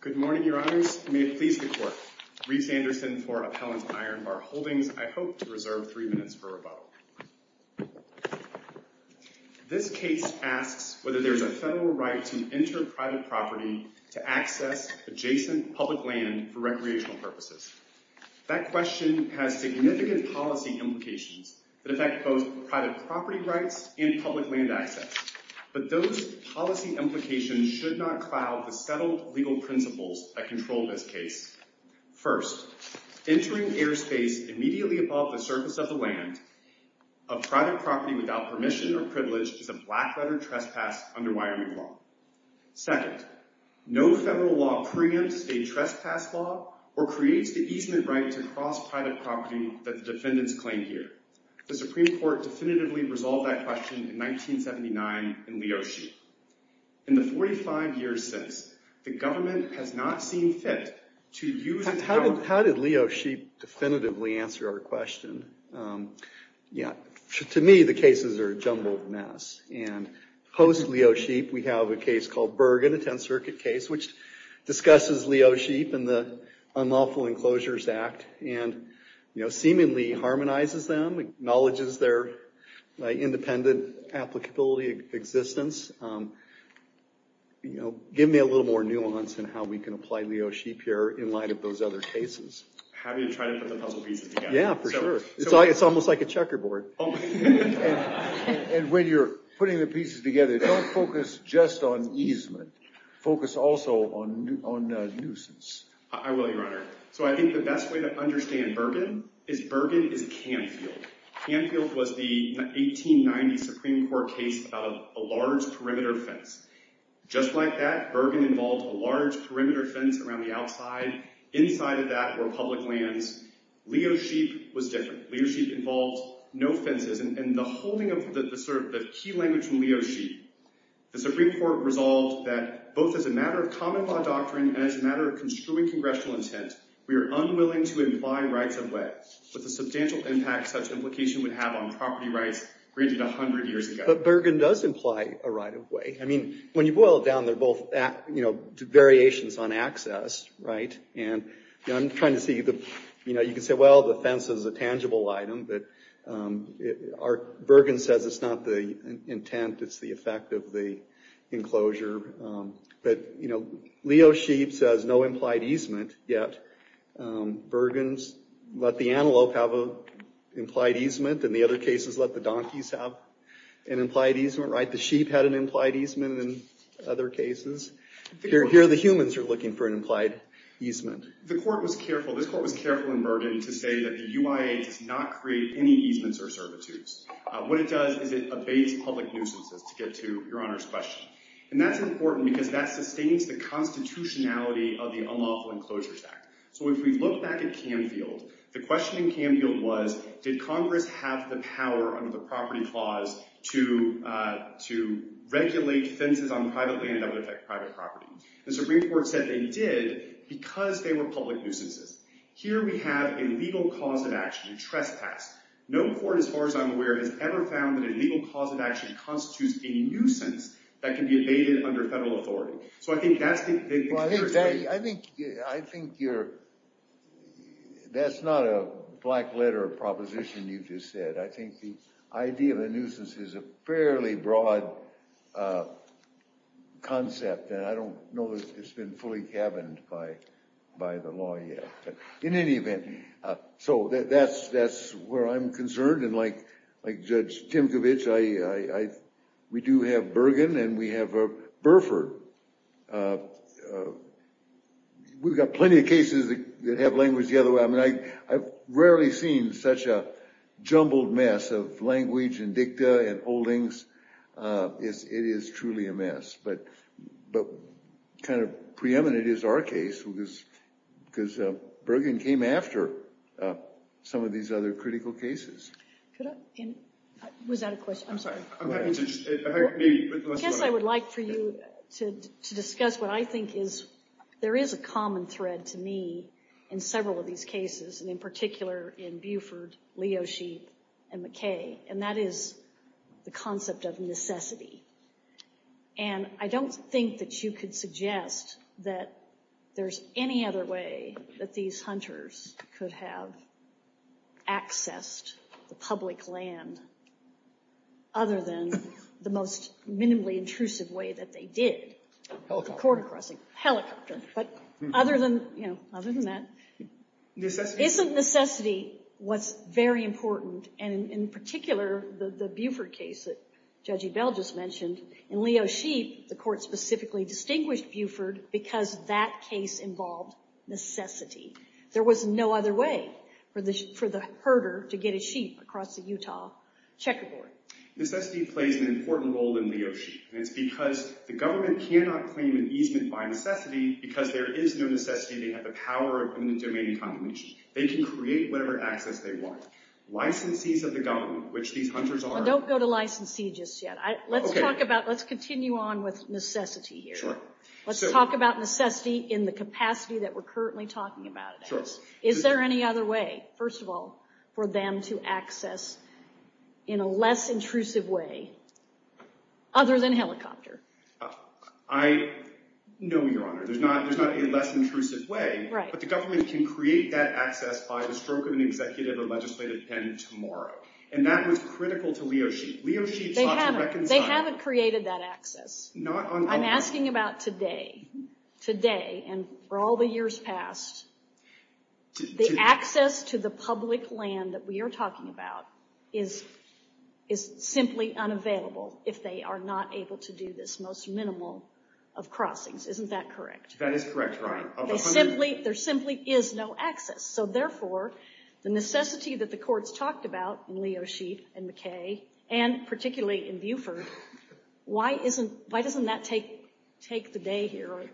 Good morning, your honors. May it please the court. Reese Anderson for Appellant Iron Bar Holdings. I hope to reserve three minutes for rebuttal. This case asks whether there's a federal right to enter private property to access adjacent public land for recreational purposes. That question has significant policy implications that affect both private property rights and public land access. But those policy implications should not cloud the settled legal principles that control this case. First, entering airspace immediately above the surface of the land of private property without permission or privilege is a black letter trespass under Wyoming law. Second, no federal law preempts a trespass law or creates the easement right to cross private property that the defendants claim here. The Supreme Court definitively resolved that question in 1979 in Leo Sheep. In the 45 years since, the government has not seen fit to use How did Leo Sheep definitively answer our question? To me, the cases are a jumbled mess. And post Leo Sheep, we have a case called Bergen, a 10th Circuit case, which discusses Leo Sheep and the Unlawful Enclosures Act and seemingly harmonizes them, acknowledges their independent applicability existence. Give me a little more nuance in how we can apply Leo Sheep here in those other cases. Happy to try to put the puzzle pieces together. Yeah, for sure. It's almost like a checkerboard. And when you're putting the pieces together, don't focus just on easement. Focus also on nuisance. I will, Your Honor. So I think the best way to understand Bergen is Bergen is Canfield. Canfield was the 1890 Supreme Court case about a large perimeter fence. Just like that, inside of that were public lands. Leo Sheep was different. Leo Sheep involved no fences. And the holding of the key language from Leo Sheep, the Supreme Court resolved that both as a matter of common law doctrine and as a matter of construing congressional intent, we are unwilling to imply rights of way with the substantial impact such implication would have on property rights granted 100 years ago. But Bergen does imply a right of way. I mean, when you boil it down, they're both variations on access, right? And I'm trying to see, you can say, well, the fence is a tangible item, but Bergen says it's not the intent, it's the effect of the enclosure. But Leo Sheep says no implied easement, yet Bergen's let the antelope have an implied easement, and the other cases let the donkeys have an implied easement, right? The sheep had an implied easement in other cases. Here, the humans are looking for an implied easement. This court was careful in Bergen to say that the UIA does not create any easements or servitudes. What it does is it abates public nuisances, to get to Your Honor's question. And that's important because that sustains the constitutionality of the Unlawful Enclosures Act. So if we look back at Canfield, the question in Canfield was, did Congress have the power under the property clause to regulate fences on private property? The Supreme Court said they did, because they were public nuisances. Here we have a legal cause of action, a trespass. No court, as far as I'm aware, has ever found that a legal cause of action constitutes a nuisance that can be abated under federal authority. So I think that's the big... Well, I think that's not a black letter of proposition you just said. I think the I don't know that it's been fully cabined by the law yet. But in any event, so that's where I'm concerned. And like Judge Timkovich, we do have Bergen and we have Burford. We've got plenty of cases that have language the other way. I mean, I've rarely seen such a jumbled mess of language and dicta and holdings. It is truly a mess. But kind of preeminent is our case, because Bergen came after some of these other critical cases. Was that a question? I'm sorry. I guess I would like for you to discuss what I think is, there is a common thread to me in several of these cases, and in particular in Buford, Leo Sheep, and McKay, and that is the concept of necessity. And I don't think that you could suggest that there's any other way that these hunters could have accessed the public land other than the most minimally intrusive way that they did. Helicopter crossing. Helicopter. But other than that, isn't necessity what's very important? And in particular, the Buford case that Judge Ebell just mentioned, in Leo Sheep, the court specifically distinguished Buford because that case involved necessity. There was no other way for the herder to get his sheep across the Utah checkerboard. Necessity plays an important role in Leo Sheep. And it's because the government cannot claim an easement by necessity because there is no necessity. They have the power in the domain of condemnation. They can create whatever access they want. Licensees of the government, which these hunters are- Don't go to licensee just yet. Let's continue on with necessity here. Let's talk about necessity in the capacity that we're currently talking about. Is there any other way, first of all, for them to know, Your Honor, there's not a less intrusive way, but the government can create that access by the stroke of an executive or legislative pen tomorrow. And that was critical to Leo Sheep. Leo Sheep sought to reconcile- They haven't created that access. I'm asking about today. Today, and for all the years past, the access to the public land that we are talking about is simply unavailable if they are not able to do this most minimal of crossings. Isn't that correct? That is correct, Your Honor. There simply is no access. So therefore, the necessity that the courts talked about in Leo Sheep and McKay, and particularly in Buford, why doesn't that take the day here?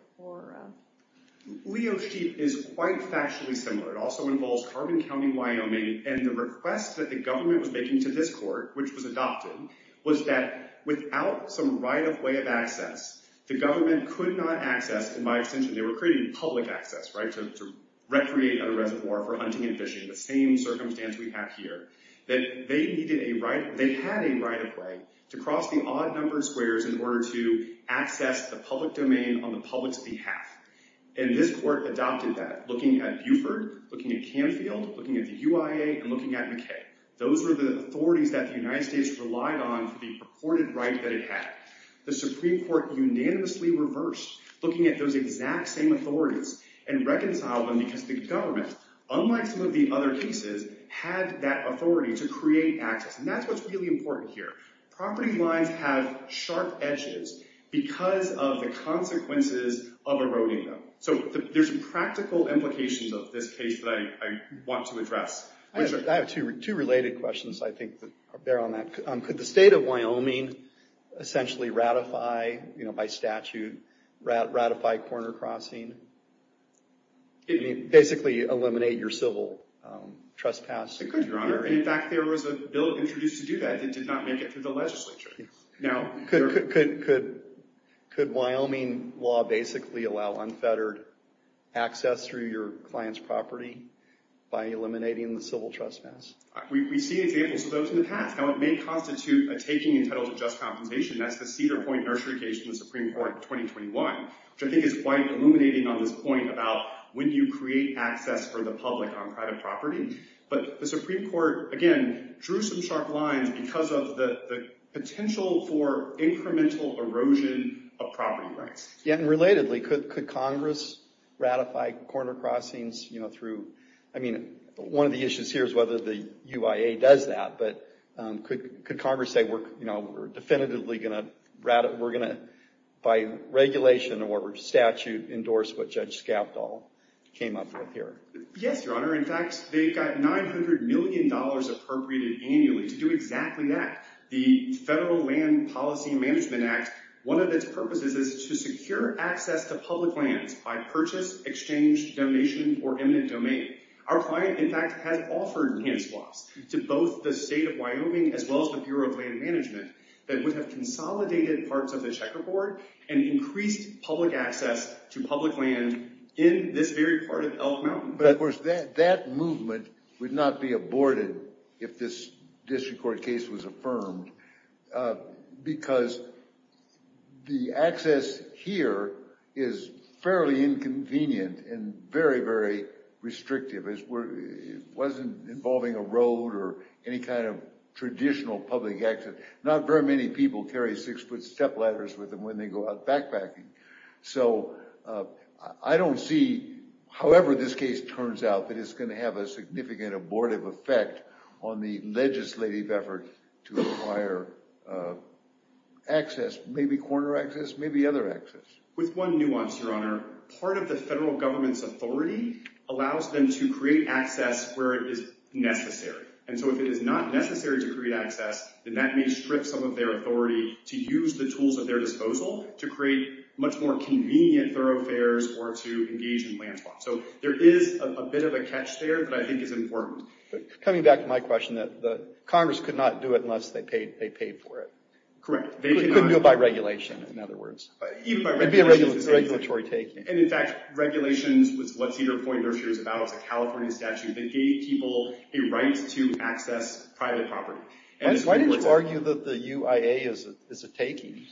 Leo Sheep is quite factually similar. It also involves Carbon County, Wyoming, and the request that the government was making to this court, which was adopted, was that without some right-of-way of access, the government could not access, in my extension, they were creating public access, right, to recreate a reservoir for hunting and fishing, the same circumstance we have here, that they needed a right- they had a right-of-way to cross the odd number of squares in order to access the public domain on the public's behalf. And this court adopted that, looking at Buford, looking at Canfield, looking at the UIA, and looking at McKay. Those were the authorities that the United States relied on for the purported right that it had. The Supreme Court unanimously reversed, looking at those exact same authorities, and reconciled them because the government, unlike some of the other cases, had that authority to create access. And that's what's really important here. Property lines have sharp edges because of the consequences of eroding them. So there's practical implications of this case that I want to address. I have two related questions, I think, that bear on that. Could the state of Wyoming essentially ratify, by statute, ratify corner crossing? Basically eliminate your civil trespass? It could, your honor. In fact, there was a bill introduced to do that that did not make it through the legislature. Could Wyoming law basically allow unfettered access through your client's property by eliminating the civil trespass? We see examples of those in the past. Now, it may constitute a taking entitled to just compensation. That's the Cedar Point Nursery Case from the Supreme Court in 2021, which I think is quite illuminating on this point about when you create access for the public on private property. But the Supreme Court, again, drew some sharp lines because of the potential for incremental erosion of property rights. Relatedly, could Congress ratify corner crossings through, I mean, one of the issues here is whether the UIA does that. But could Congress say, we're definitively going to, by regulation or statute, endorse what Judge Scavdall came up with here? Yes, your honor. In fact, they've got $900 million appropriated annually to do exactly that. The Federal Land Policy Management Act, one of its purposes is to secure access to public lands by purchase, exchange, donation, or eminent domain. Our client, in fact, has offered hand swaps to both the state of Wyoming as well as the Bureau of Land Management that would have consolidated parts of the checkerboard and increased public access to public land in this very part of Elk Mountain. But of course, that movement would not be aborted if this district court case was affirmed because the access here is fairly inconvenient and very, very restrictive. It wasn't involving a road or any kind of traditional public access. Not very many people carry six foot step ladders with them when they go out backpacking. So I don't see, however this case turns out, that it's going to have a significant abortive effect on the legislative effort to acquire access, maybe corner access, maybe other access. With one nuance, your honor, part of the federal government's authority allows them to create access where it is necessary. And so if it is not necessary to to use the tools at their disposal to create much more convenient thoroughfares or to engage in land swap. So there is a bit of a catch there that I think is important. Coming back to my question, that Congress could not do it unless they paid for it. Correct. It couldn't do it by regulation, in other words. It would be a regulatory taking. And in fact, regulations was what Cedar Point Nursery is about. It's a California statute that gave people a right to access private property. Why did you argue that the UIA is a taking?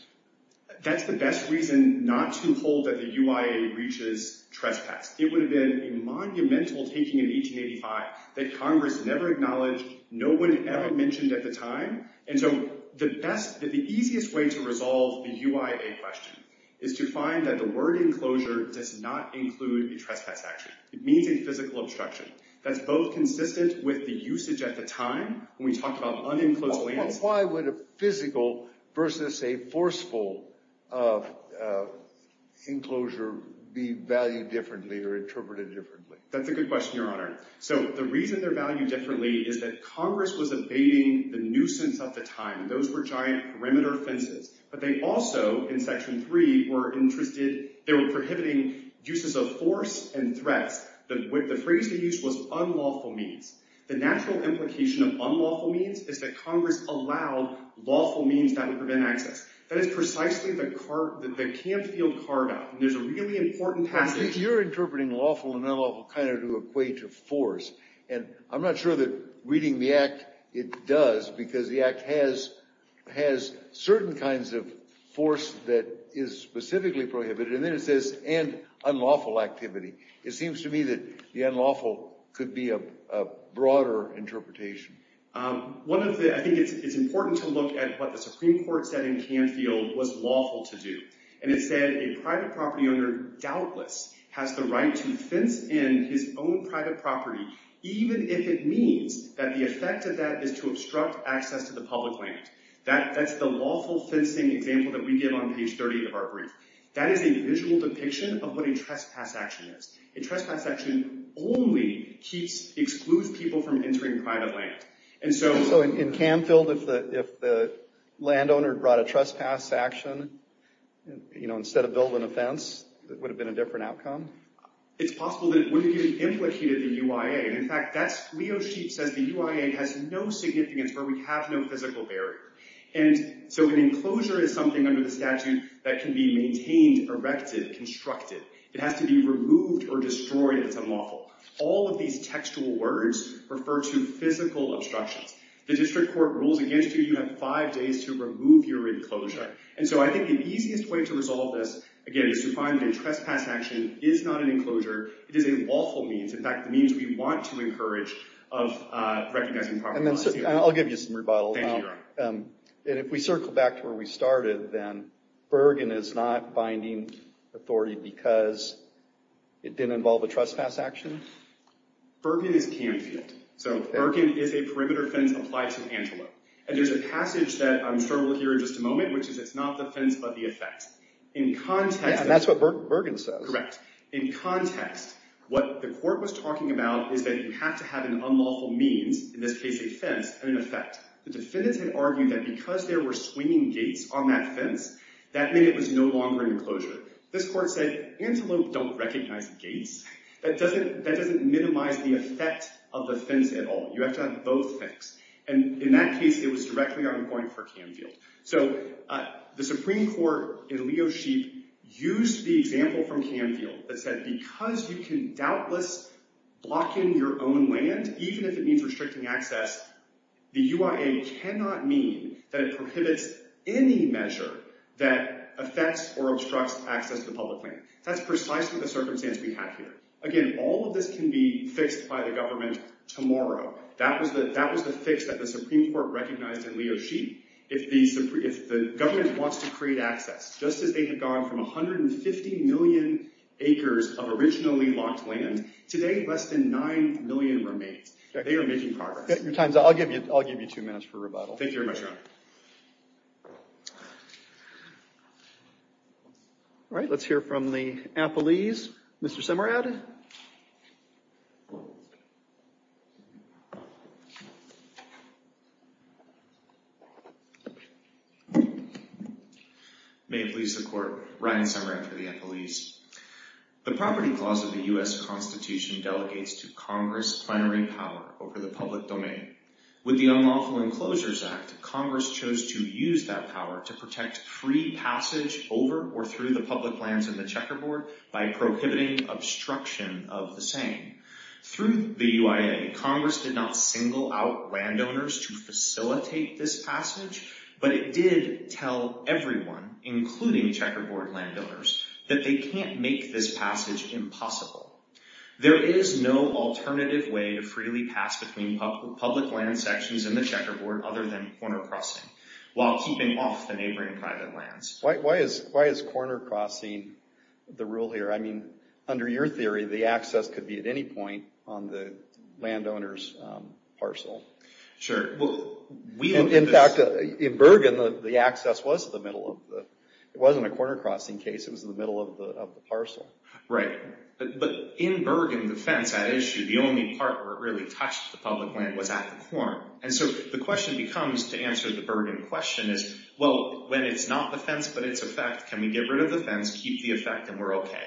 That's the best reason not to hold that the UIA reaches trespass. It would have been a monumental taking in 1885 that Congress never acknowledged, no one ever mentioned at the time. And so the best, the easiest way to resolve the UIA question is to find that the word enclosure does not include a trespass action. It means a physical obstruction. That's both consistent with the usage at the time when we talk about unenclosed lands. Why would a physical versus a forceful enclosure be valued differently or interpreted differently? That's a good question, Your Honor. So the reason they're valued differently is that Congress was evading the nuisance at the time. Those were giant perimeter fences. But they also in section three were interested, they were prohibiting uses of force and threats. The phrase they used was unlawful means. The natural implication of unlawful means is that Congress allowed lawful means that would prevent access. That is precisely the campfield carve out. And there's a really important passage. You're interpreting lawful and unlawful kind of to equate to force. And I'm not sure that reading the act, it does because the act has certain kinds of force that is specifically prohibited. And then it says and unlawful activity. It seems to me that the unlawful could be a broader interpretation. One of the, I think it's important to look at what the Supreme Court said in Campfield was lawful to do. And it said a private property owner doubtless has the right to fence in his own private property even if it means that the effect of that is to give on page 30 of our brief. That is a visual depiction of what a trespass action is. A trespass action only excludes people from entering private land. And so in Campfield, if the land owner brought a trespass action, you know, instead of building a fence, it would have been a different outcome. It's possible that it would have implicated the UIA. In fact, Leo Sheep says the UIA has no physical barrier. And so an enclosure is something under the statute that can be maintained, erected, constructed. It has to be removed or destroyed that's unlawful. All of these textual words refer to physical obstructions. The district court rules against you. You have five days to remove your enclosure. And so I think the easiest way to resolve this, again, is to find that a trespass action is not an enclosure. It is a lawful means. In fact, the means we want to encourage of I'll give you some rebuttal. And if we circle back to where we started, then Bergen is not binding authority because it didn't involve a trespass action? Bergen is Campfield. So Bergen is a perimeter fence applied to Antelope. And there's a passage that I'm sure we'll hear in just a moment, which is it's not the fence but the effect. And that's what Bergen says. Correct. In context, what the court was talking about is that you have to have an unlawful means, in this case, a fence, and an effect. The defendants had argued that because there were swinging gates on that fence, that meant it was no longer an enclosure. This court said, Antelope don't recognize gates. That doesn't minimize the effect of the fence at all. You have to have both things. And in that case, it was directly on point for Campfield. So the Supreme Court in Leo Sheep used the example from Campfield that said, because you can restrict access, the UIA cannot mean that it prohibits any measure that affects or obstructs access to public land. That's precisely the circumstance we have here. Again, all of this can be fixed by the government tomorrow. That was the fix that the Supreme Court recognized in Leo Sheep. If the government wants to create access, just as they have gone from 150 million acres of originally locked land, today, less than 9 million remain. They are making progress. Your time's up. I'll give you two minutes for rebuttal. Thank you very much, Your Honor. All right. Let's hear from the appellees. Mr. Simrad. May it please the Court, Ryan Simrad for the appellees. The Property Clause of the U.S. Constitution delegates to Congress plenary power over the public domain. With the Unlawful Enclosures Act, Congress chose to use that power to protect free passage over or through the public lands in the checkerboard by prohibiting obstruction of the saying. Through the UIA, Congress did not single out landowners to facilitate this passage, but it did tell everyone, including checkerboard landowners, that they can't make this passage impossible. There is no alternative way to freely pass between public land sections in the checkerboard other than corner crossing, while keeping off the neighboring private lands. Why is corner crossing the rule here? I mean, under your theory, the access could be at any on the landowner's parcel. Sure. In fact, in Bergen, the access was at the middle of the... It wasn't a corner crossing case. It was in the middle of the parcel. Right. But in Bergen, the fence at issue, the only part where it really touched the public land was at the corn. And so the question becomes, to answer the Bergen question, is, well, when it's not the fence but it's a fence, can we get rid of the fence, keep the effect, and we're okay?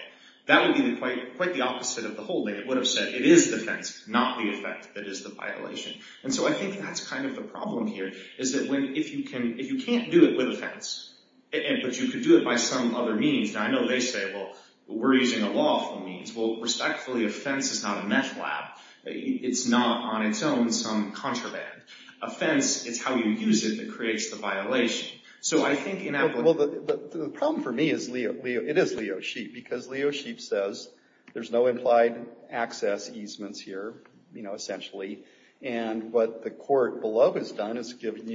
That would be quite the opposite of the whole thing. It would have said, it is the fence, not the effect that is the violation. And so I think that's kind of the problem here, is that if you can't do it with a fence, but you could do it by some other means. Now, I know they say, well, we're using a lawful means. Well, respectfully, a fence is not a meth lab. It's not, on its own, some contraband. A fence, it's how you use it that creates the violation. So I think in that way. Well, the problem for me is, it is Leo Sheep, because Leo Sheep says there's no implied access easements here, essentially. And what the court below has done is given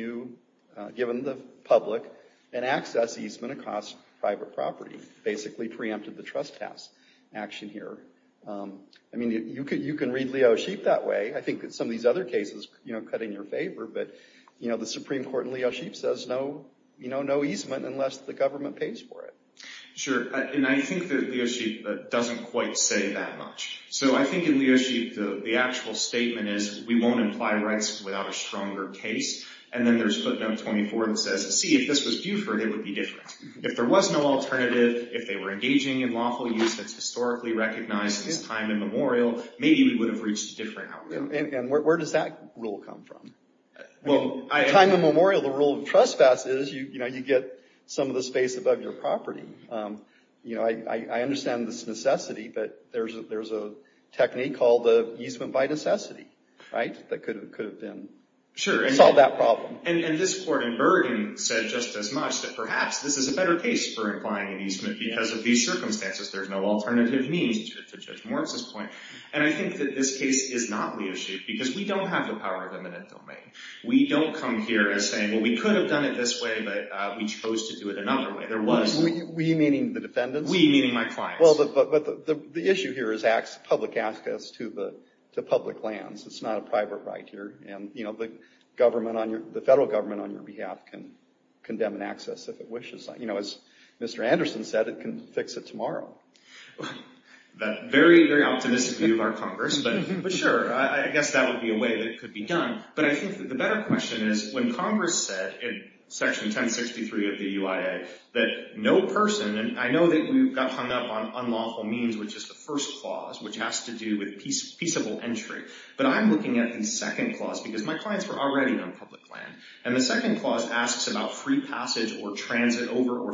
the public an access easement across private property, basically preempted the trespass action here. I mean, you can read Leo Sheep that way. I think that some of these other cases cut in your favor. But the Supreme Court in Leo Sheep says no easement unless the government pays for it. Sure. And I think that Leo Sheep doesn't quite say that much. So I think in Leo Sheep, the actual statement is, we won't imply rights without a stronger case. And then there's footnote 24 that says, see, if this was Buford, it would be different. If there was no alternative, if they were engaging in lawful use that's historically recognized as time immemorial, maybe we would have reached a different outcome. And where does that rule come from? Well, I... Time immemorial, the rule of trespass is, you know, you get some of the space above your property. You know, I understand this necessity, but there's a technique called the easement by necessity, right? That could have been... Sure. Solved that problem. And this court in Bergen said just as much, that perhaps this is a better case for implying an easement because of these circumstances, there's no alternative means to Judge Moritz's point. And I think that this case is not Leo Sheep because we don't have the power of eminent domain. We don't come here as saying, well, we could have done it this way, but we chose to do it another way. There was... We meaning the defendants? We meaning my clients. Well, but the issue here is public access to the public lands. It's not a private right here. And, you know, the government on your... The federal government on your behalf can fix it tomorrow. That very, very optimistic view of our Congress, but sure. I guess that would be a way that it could be done. But I think that the better question is when Congress said in section 1063 of the UIA that no person... And I know that we've got hung up on unlawful means, which is the first clause, which has to do with peaceable entry. But I'm looking at the second clause because my clients were already on public land. And the second clause asks about free passage or transit over or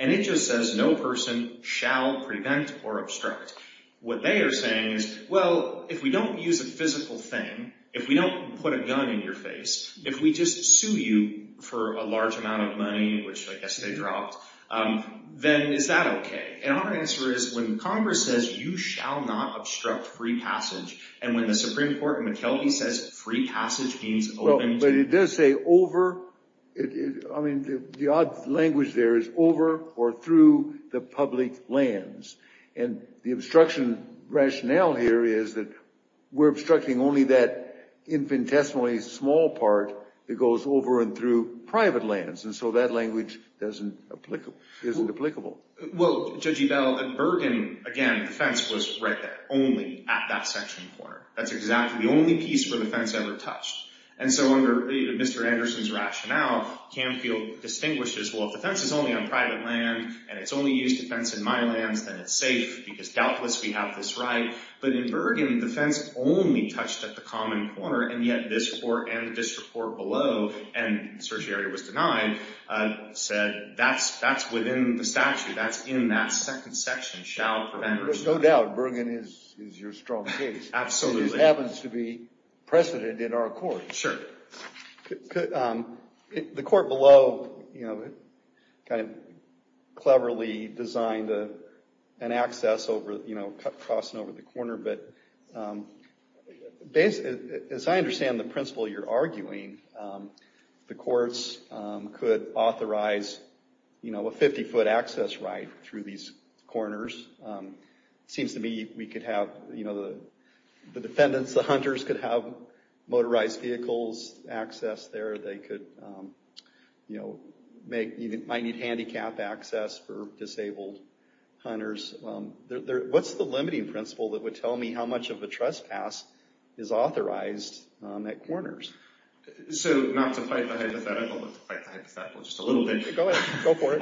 and it just says no person shall prevent or obstruct. What they are saying is, well, if we don't use a physical thing, if we don't put a gun in your face, if we just sue you for a large amount of money, which I guess they dropped, then is that okay? And our answer is when Congress says you shall not obstruct free passage and when the Supreme Court in McKelvie says free passage means... But it does say over. I mean, the odd language there is over or through the public lands. And the obstruction rationale here is that we're obstructing only that infinitesimally small part that goes over and through private lands. And so that language isn't applicable. Well, Judge Ebell, in Bergen, again, the fence was right there, only at that section corner. That's exactly the only piece where the fence ever touched. And so under Mr. Anderson's rationale, Canfield distinguishes, well, if the fence is only on private land and it's only used to fence in my lands, then it's safe because doubtless we have this right. But in Bergen, the fence only touched at the common corner and yet this report and this report below, and the search area was denied, said that's within the statute. That's in that second section, shall prevent or obstruct. Absolutely. Which happens to be precedent in our court. Sure. The court below cleverly designed an access crossing over the corner. But as I understand the principle you're arguing, the courts could authorize a 50-foot access right through these corners. It seems to me we could have the defendants, the hunters, could have motorized vehicles access there. They might need handicap access for disabled hunters. What's the limiting principle that would tell me how much of a trespass is authorized at corners? So not to fight the hypothetical, but to fight the hypothetical just a little bit. Go ahead. Go for it.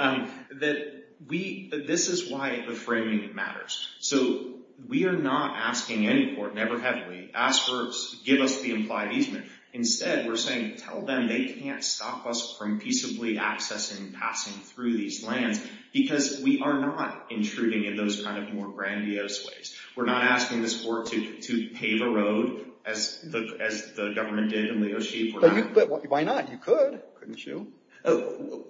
That we, this is why the framing matters. So we are not asking any court, never have we, ask for, give us the implied easement. Instead, we're saying tell them they can't stop us from peaceably accessing and passing through these lands because we are not intruding in those kind of more grandiose ways. We're not asking this court to pave a road as the government did in Leo Sheep. But why not? You could, couldn't you? Oh,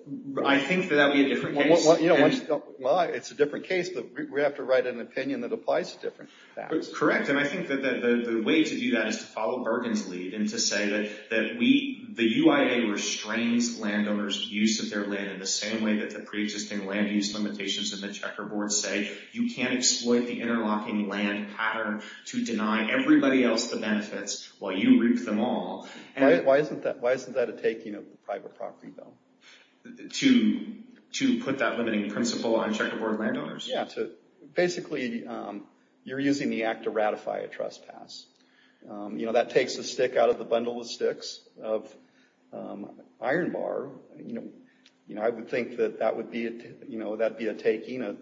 I think that that would be a different case. Well, you know, it's a different case, but we have to write an opinion that applies to different facts. Correct. And I think that the way to do that is to follow Bergen's lead and to say that we, the UIA restrains landowners' use of their land in the same way that the preexisting land use limitations in the checkerboard say you can't exploit the interlocking land pattern to deny everybody else the benefits while you reap them all. Why isn't that a taking of private property, though? To put that limiting principle on checkerboard landowners? Yeah, to, basically, you're using the act to ratify a trespass. You know, that takes a stick out of the bundle of sticks of iron bar. You know, I would think that that would be, you know, that'd be a taking, a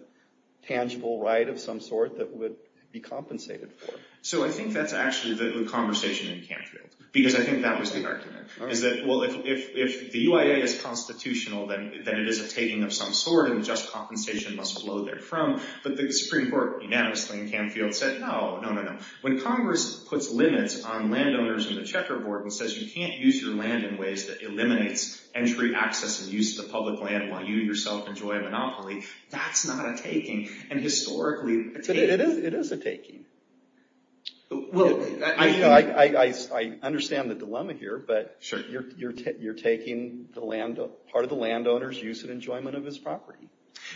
tangible right of some sort that would be compensated for. So I think that's actually the conversation in Canfield, because I think that was the argument. Is that, well, if the UIA is constitutional, then it is a taking of some sort, and just compensation must flow therefrom. But the Supreme Court unanimously in Canfield said, no, no, no, no. When Congress puts limits on landowners in the checkerboard and says you can't use your land in ways that eliminates entry, access, and use of the public land while you yourself enjoy a monopoly, that's not a taking. And historically, it is a taking. Well, I understand the dilemma here, but you're taking part of the landowner's use and enjoyment of his property.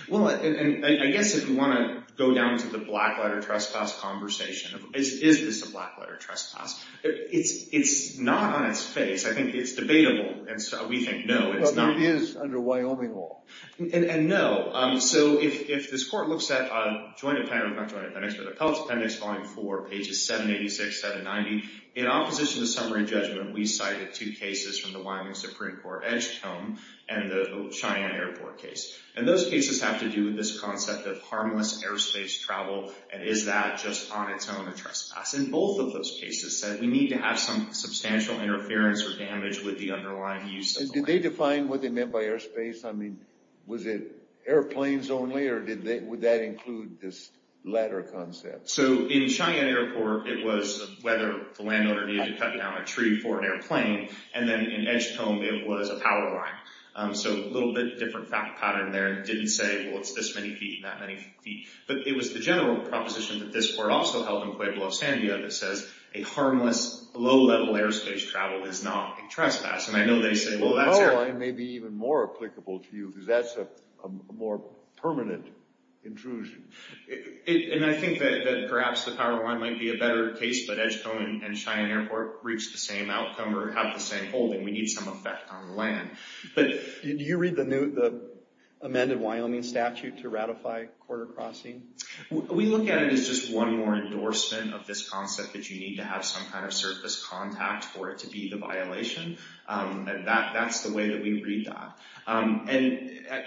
Well, and I guess if you want to go down to the black letter trespass conversation, is this a black letter trespass? It's not on its face. I think it's debatable. And so we think, no, it's not. But it is under Wyoming law. And no. So if this court looks at Joint Appendix, not Joint Appendix, but Appellate Appendix Volume 4, pages 786, 790, in opposition to summary judgment, we cited two cases from the Wyoming Supreme Court, Edgecombe and the Cheyenne Airport case. And those cases have to do with this concept of harmless airspace travel. And is that just on its own a trespass? And both of those cases said we need to have some substantial interference or damage with the underlying use of the land. And did they define what they meant by airspace? I mean, was it airplanes only, or would that include this latter concept? So in Cheyenne Airport, it was whether the landowner needed to cut down a tree for an airplane. And then in Edgecombe, it was a power line. So a little bit different pattern there. It didn't say, well, it's this many feet, that many feet. But it was the general proposition that this court also held in Pueblo, San Diego, that says a harmless, low-level airspace travel is not a trespass. And I know they say, well, that's air. Well, a power line may be even more applicable to you, because that's a more permanent intrusion. And I think that perhaps the power line might be a better case, but Edgecombe and Cheyenne Airport reached the same outcome or have the same holding. We need some effect on land. But do you read the amended Wyoming statute to ratify quarter crossing? We look at it as just one more endorsement of this concept that you need to have some kind of surface contact for it to be the violation. And that's the way that we read that. And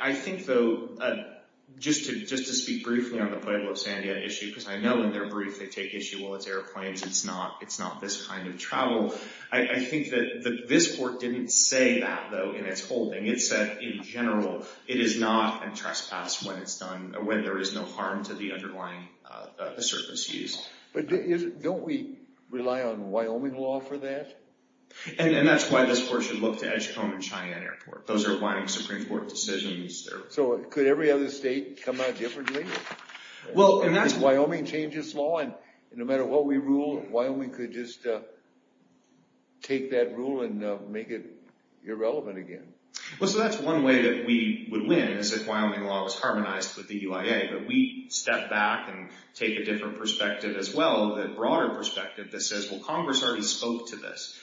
I think, though, just to speak briefly on the Pueblo, San Diego issue, because I know in their brief they take issue, well, it's airplanes. It's not this kind of travel. I think that this court didn't say that, though, in its holding. It said, in general, it is not a trespass when there is no harm to the underlying surface use. But don't we rely on Wyoming law for that? And that's why this court should look to Edgecombe and Cheyenne Airport. Those are Wyoming Supreme Court decisions. So could every other state come out differently? Well, and that's- Wyoming changes law, and no matter what we rule, Wyoming could just take that rule and make it irrelevant again. Well, so that's one way that we would win is if Wyoming law was harmonized with the UIA. But we step back and take a different perspective as well, the broader perspective that says, well, Congress already spoke to this.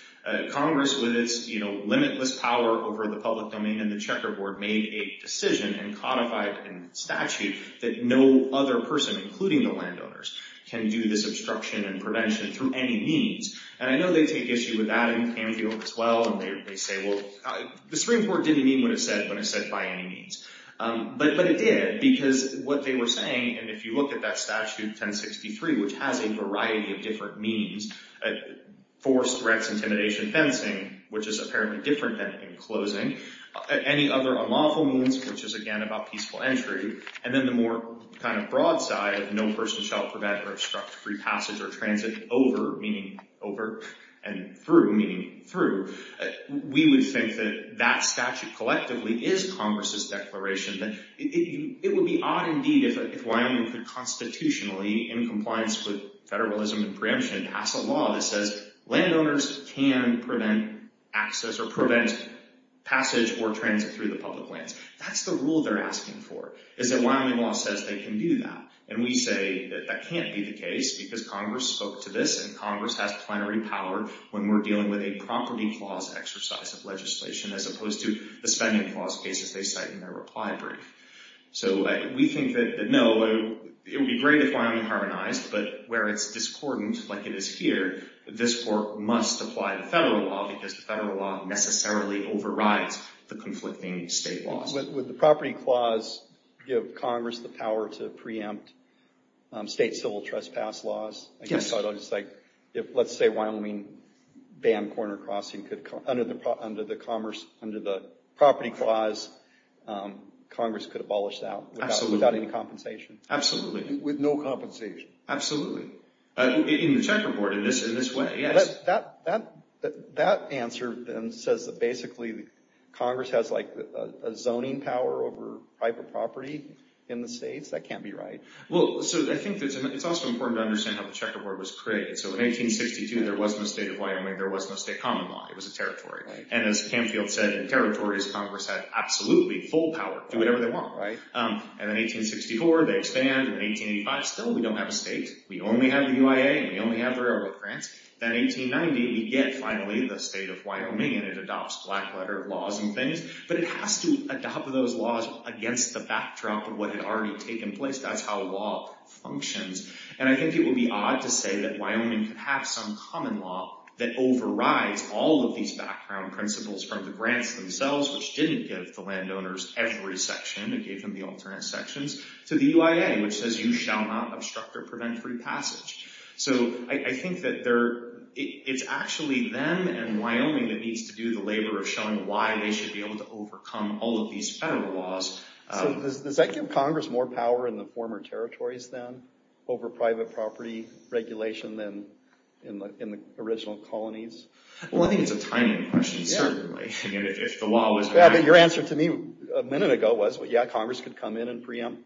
Congress, with its limitless power over the public domain and the checkerboard, made a decision and codified a statute that no other person, including the landowners, can do this obstruction and prevention through any means. And I know they take issue with that in San Diego as well. And they say, well, the Supreme Court didn't mean what it said when it said by any means. But it did, because what they were saying, and if you look at that statute 1063, which has a variety of different means, force, threats, intimidation, fencing, which is apparently different than in closing, any other unlawful means, which is, again, about peaceful entry, and then the more kind of broad side of no person shall prevent or obstruct free passage or transit over, meaning over, and through, meaning through, we would think that that statute collectively is Congress's declaration that it would be odd indeed if Congress, in compliance with federalism and preemption, passed a law that says landowners can prevent access or prevent passage or transit through the public lands. That's the rule they're asking for, is that Wyoming law says they can do that. And we say that that can't be the case, because Congress spoke to this, and Congress has plenary power when we're dealing with a property clause exercise of legislation, as opposed to the spending clause cases they cite in their reply brief. So we think that, no, it would be great if Wyoming harmonized, but where it's discordant, like it is here, this court must apply the federal law, because the federal law necessarily overrides the conflicting state laws. Would the property clause give Congress the power to preempt state civil trespass laws? Yes. Let's say Wyoming banned corner crossing, under the property clause, Congress could abolish that without any compensation. Absolutely. With no compensation. Absolutely. In the checkerboard, in this way, yes. That answer then says that basically Congress has like a zoning power over private property in the states. That can't be right. Well, so I think it's also important to understand how the checkerboard was created. So in 1862, there wasn't a state of Wyoming. There was no state common law. It was a territory. And as Canfield said, in territories, Congress had absolutely full power, do whatever they want. And then 1864, they expand. And in 1885, still, we don't have a state. We only have the UIA, and we only have the railroad grants. Then 1890, we get finally the state of Wyoming, and it adopts black letter laws and things. But it has to adopt those laws against the backdrop of what had already taken place. That's how law functions. And I think it would be odd to say that Wyoming could have some common law that overrides all of these background principles from the grants themselves, which didn't give the landowners every section. It gave them the alternate sections, to the UIA, which says you shall not obstruct or prevent free passage. So I think that it's actually them and Wyoming that needs to do the labor of showing why they should be able to overcome all of these federal laws. So does that give Congress more power in the former territories then over private property regulation than in the original colonies? Well, I think it's a timing question, certainly. If the law was going to- Yeah, but your answer to me a minute ago was, yeah, Congress could come in and preempt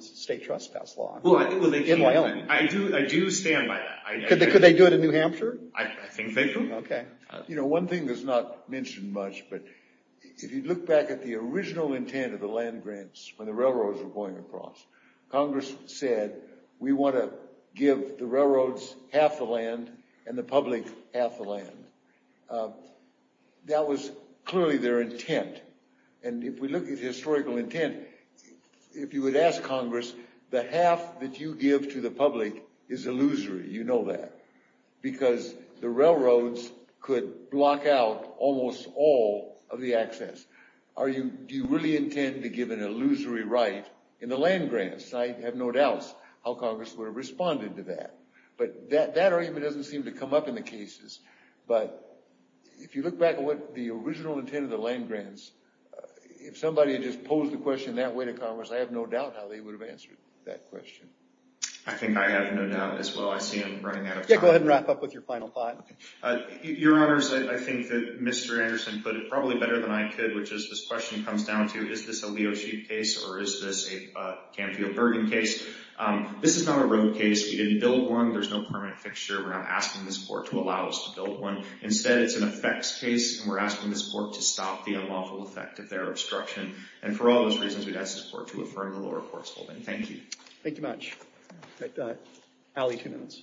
state trespass law in Wyoming. I do stand by that. Could they do it in New Hampshire? I think they could. OK. You know, one thing that's not mentioned much, but if you look back at the original intent of the land grants, when the railroads were going across, Congress said, we want to give the railroads half the land and the public half the land. That was clearly their intent. And if we look at historical intent, if you would ask Congress, the half that you give to the public is illusory. You know that. Because the railroads could block out almost all of the access. Do you really intend to give an illusory right in the land grants? I have no doubts how Congress would have responded to that. But that argument doesn't seem to come up in the cases. But if you look back at what the original intent of the land grants, if somebody had just posed the question that way to Congress, I have no doubt how they would have answered that question. I think I have no doubt as well. I see him running out of time. Yeah, go ahead and wrap up with your final thought. Your Honors, I think that Mr. Anderson put it probably better than I could, which is this question comes down to, is this a Leo Sheep case or is this a Canfield-Bergen case? This is not a road case. We didn't build one. There's no permanent fixture. We're not asking this court to allow us to build one. Instead, it's an effects case. And we're asking this court to stop the unlawful effect of their obstruction. And for all those reasons, we'd ask this court to affirm the lower court's holding. Thank you. Thank you much. Allie, two minutes.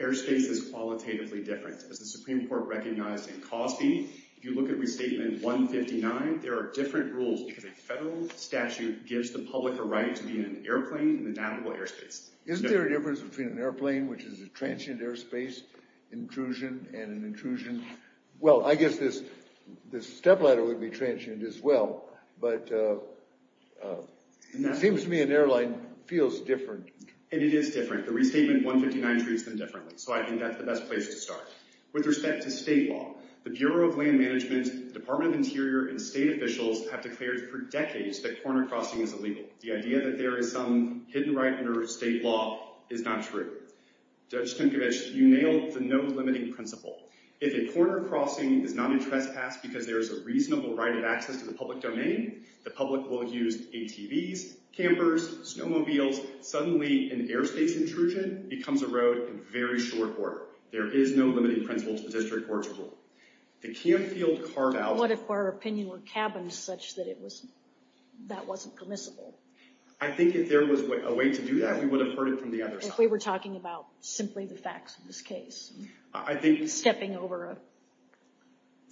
Ayr's case is qualitatively different. As the Supreme Court recognized in Cosby, if you look at Restatement 159, there are different rules because a federal statute gives the public a right to be in an airplane in the navigable airspace. Isn't there a difference between an airplane, which is a transient airspace intrusion and an intrusion? Well, I guess this step ladder would be transient as well. But it seems to me an airline feels different. And it is different. The Restatement 159 treats them differently. So I think that's the best place to start. With respect to state law, the Bureau of Land Management, Department of Interior, and state officials have declared for decades that corner crossing is illegal. The idea that there is some hidden right under state law is not true. Judge Tinkovich, you nailed the no-limiting principle. If a corner crossing is not a trespass because there is a reasonable right of access to the public domain, the public will use ATVs, campers, snowmobiles. Suddenly, an airspace intrusion becomes a road in very short order. There is no limiting principle to the district court's rule. The camp field carved out- What if our opinion were cabined such that that wasn't permissible? I think if there was a way to do that, we would have heard it from the other side. If we were talking about simply the facts of this case, stepping over a-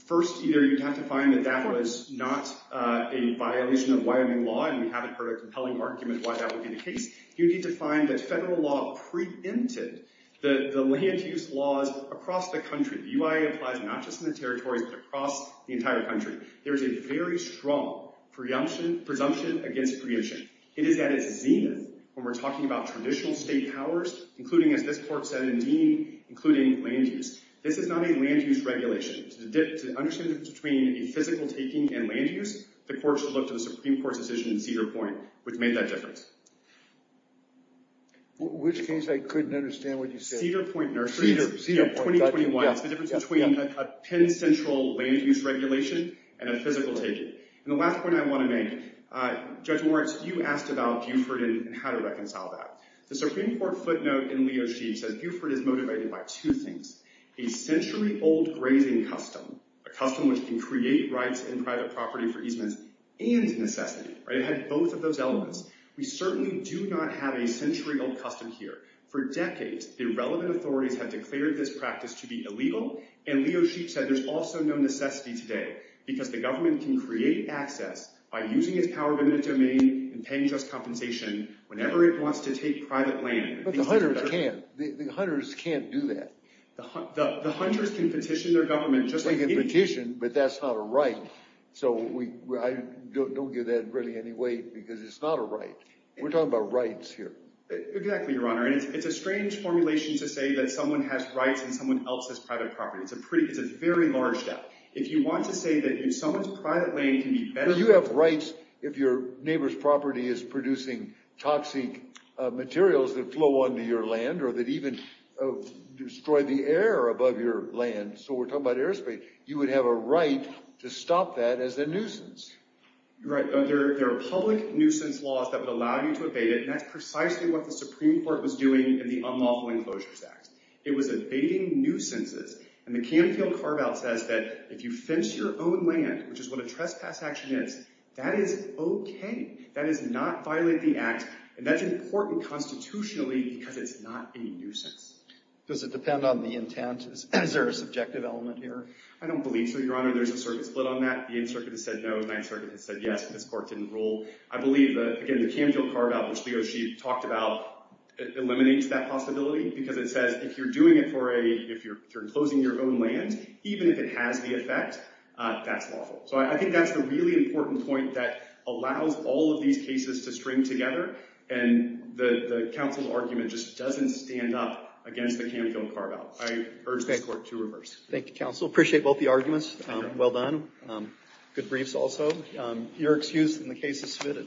First, either you'd have to find that that was not a violation of Wyoming law, and we haven't heard a compelling argument why that would be the case. You'd need to find that federal law preempted the land use laws across the country. The UIA applies not just in the territories, but across the entire country. There is a very strong presumption against preemption. It is at its zenith when we're talking about traditional state powers, including, as this court said in Dean, including land use. This is not a land use regulation. To understand the difference between a physical taking and land use, the court should look to the Supreme Court's decision in Cedar Point, which made that difference. Which case? I couldn't understand what you said. Cedar Point, 2021. It's the difference between a Penn Central land use regulation and a physical taking. The last point I want to make, Judge Moritz, you asked about Buford and how to reconcile that. The Supreme Court footnote in Leo Sheave says Buford is motivated by two things, a century old grazing custom, a custom which can create rights and private property for easements and necessity. It had both of those elements. We certainly do not have a century old custom here. For decades, the relevant authorities have declared this practice to be illegal, and Leo Sheave said there's also no necessity today, because the government can create access by using its power within the domain and paying just compensation whenever it wants to take private land. But the hunters can't. The hunters can't do that. The hunters can petition their government just like anybody. They can petition, but that's not a right. So I don't give that really any weight, because it's not a right. We're talking about rights here. Exactly, Your Honor. And it's a strange formulation to say that someone has rights and someone else has private property. It's a very large doubt. If you want to say that someone's private land can be benefited from— But you have rights if your neighbor's property is producing toxic materials that flow onto your land or that even destroy the air above your land. So we're talking about airspace. You would have a right to stop that as a nuisance. Right, but there are public nuisance laws that would allow you to evade it, and that's precisely what the Supreme Court was doing in the Unlawful Enclosures Act. It was evading nuisances, and the Canfield carve-out says that if you fence your own land, which is what a trespass action is, that is okay. That does not violate the act, and that's important constitutionally because it's not a nuisance. Does it depend on the intent? Is there a subjective element here? I don't believe so, Your Honor. There's a circuit split on that. The 8th Circuit has said no. The 9th Circuit has said yes. This court didn't rule. I believe, again, the Canfield carve-out, which Leo, she talked about, eliminates that possibility because it says if you're doing it for a—if you're enclosing your own land, even if it has the effect, that's lawful. So I think that's a really important point that allows all of these cases to string together, and the counsel's argument just doesn't stand up against the Canfield carve-out. I urge this court to reverse. Thank you, counsel. Appreciate both the arguments. Well done. Good briefs also. You're excused, and the case is submitted.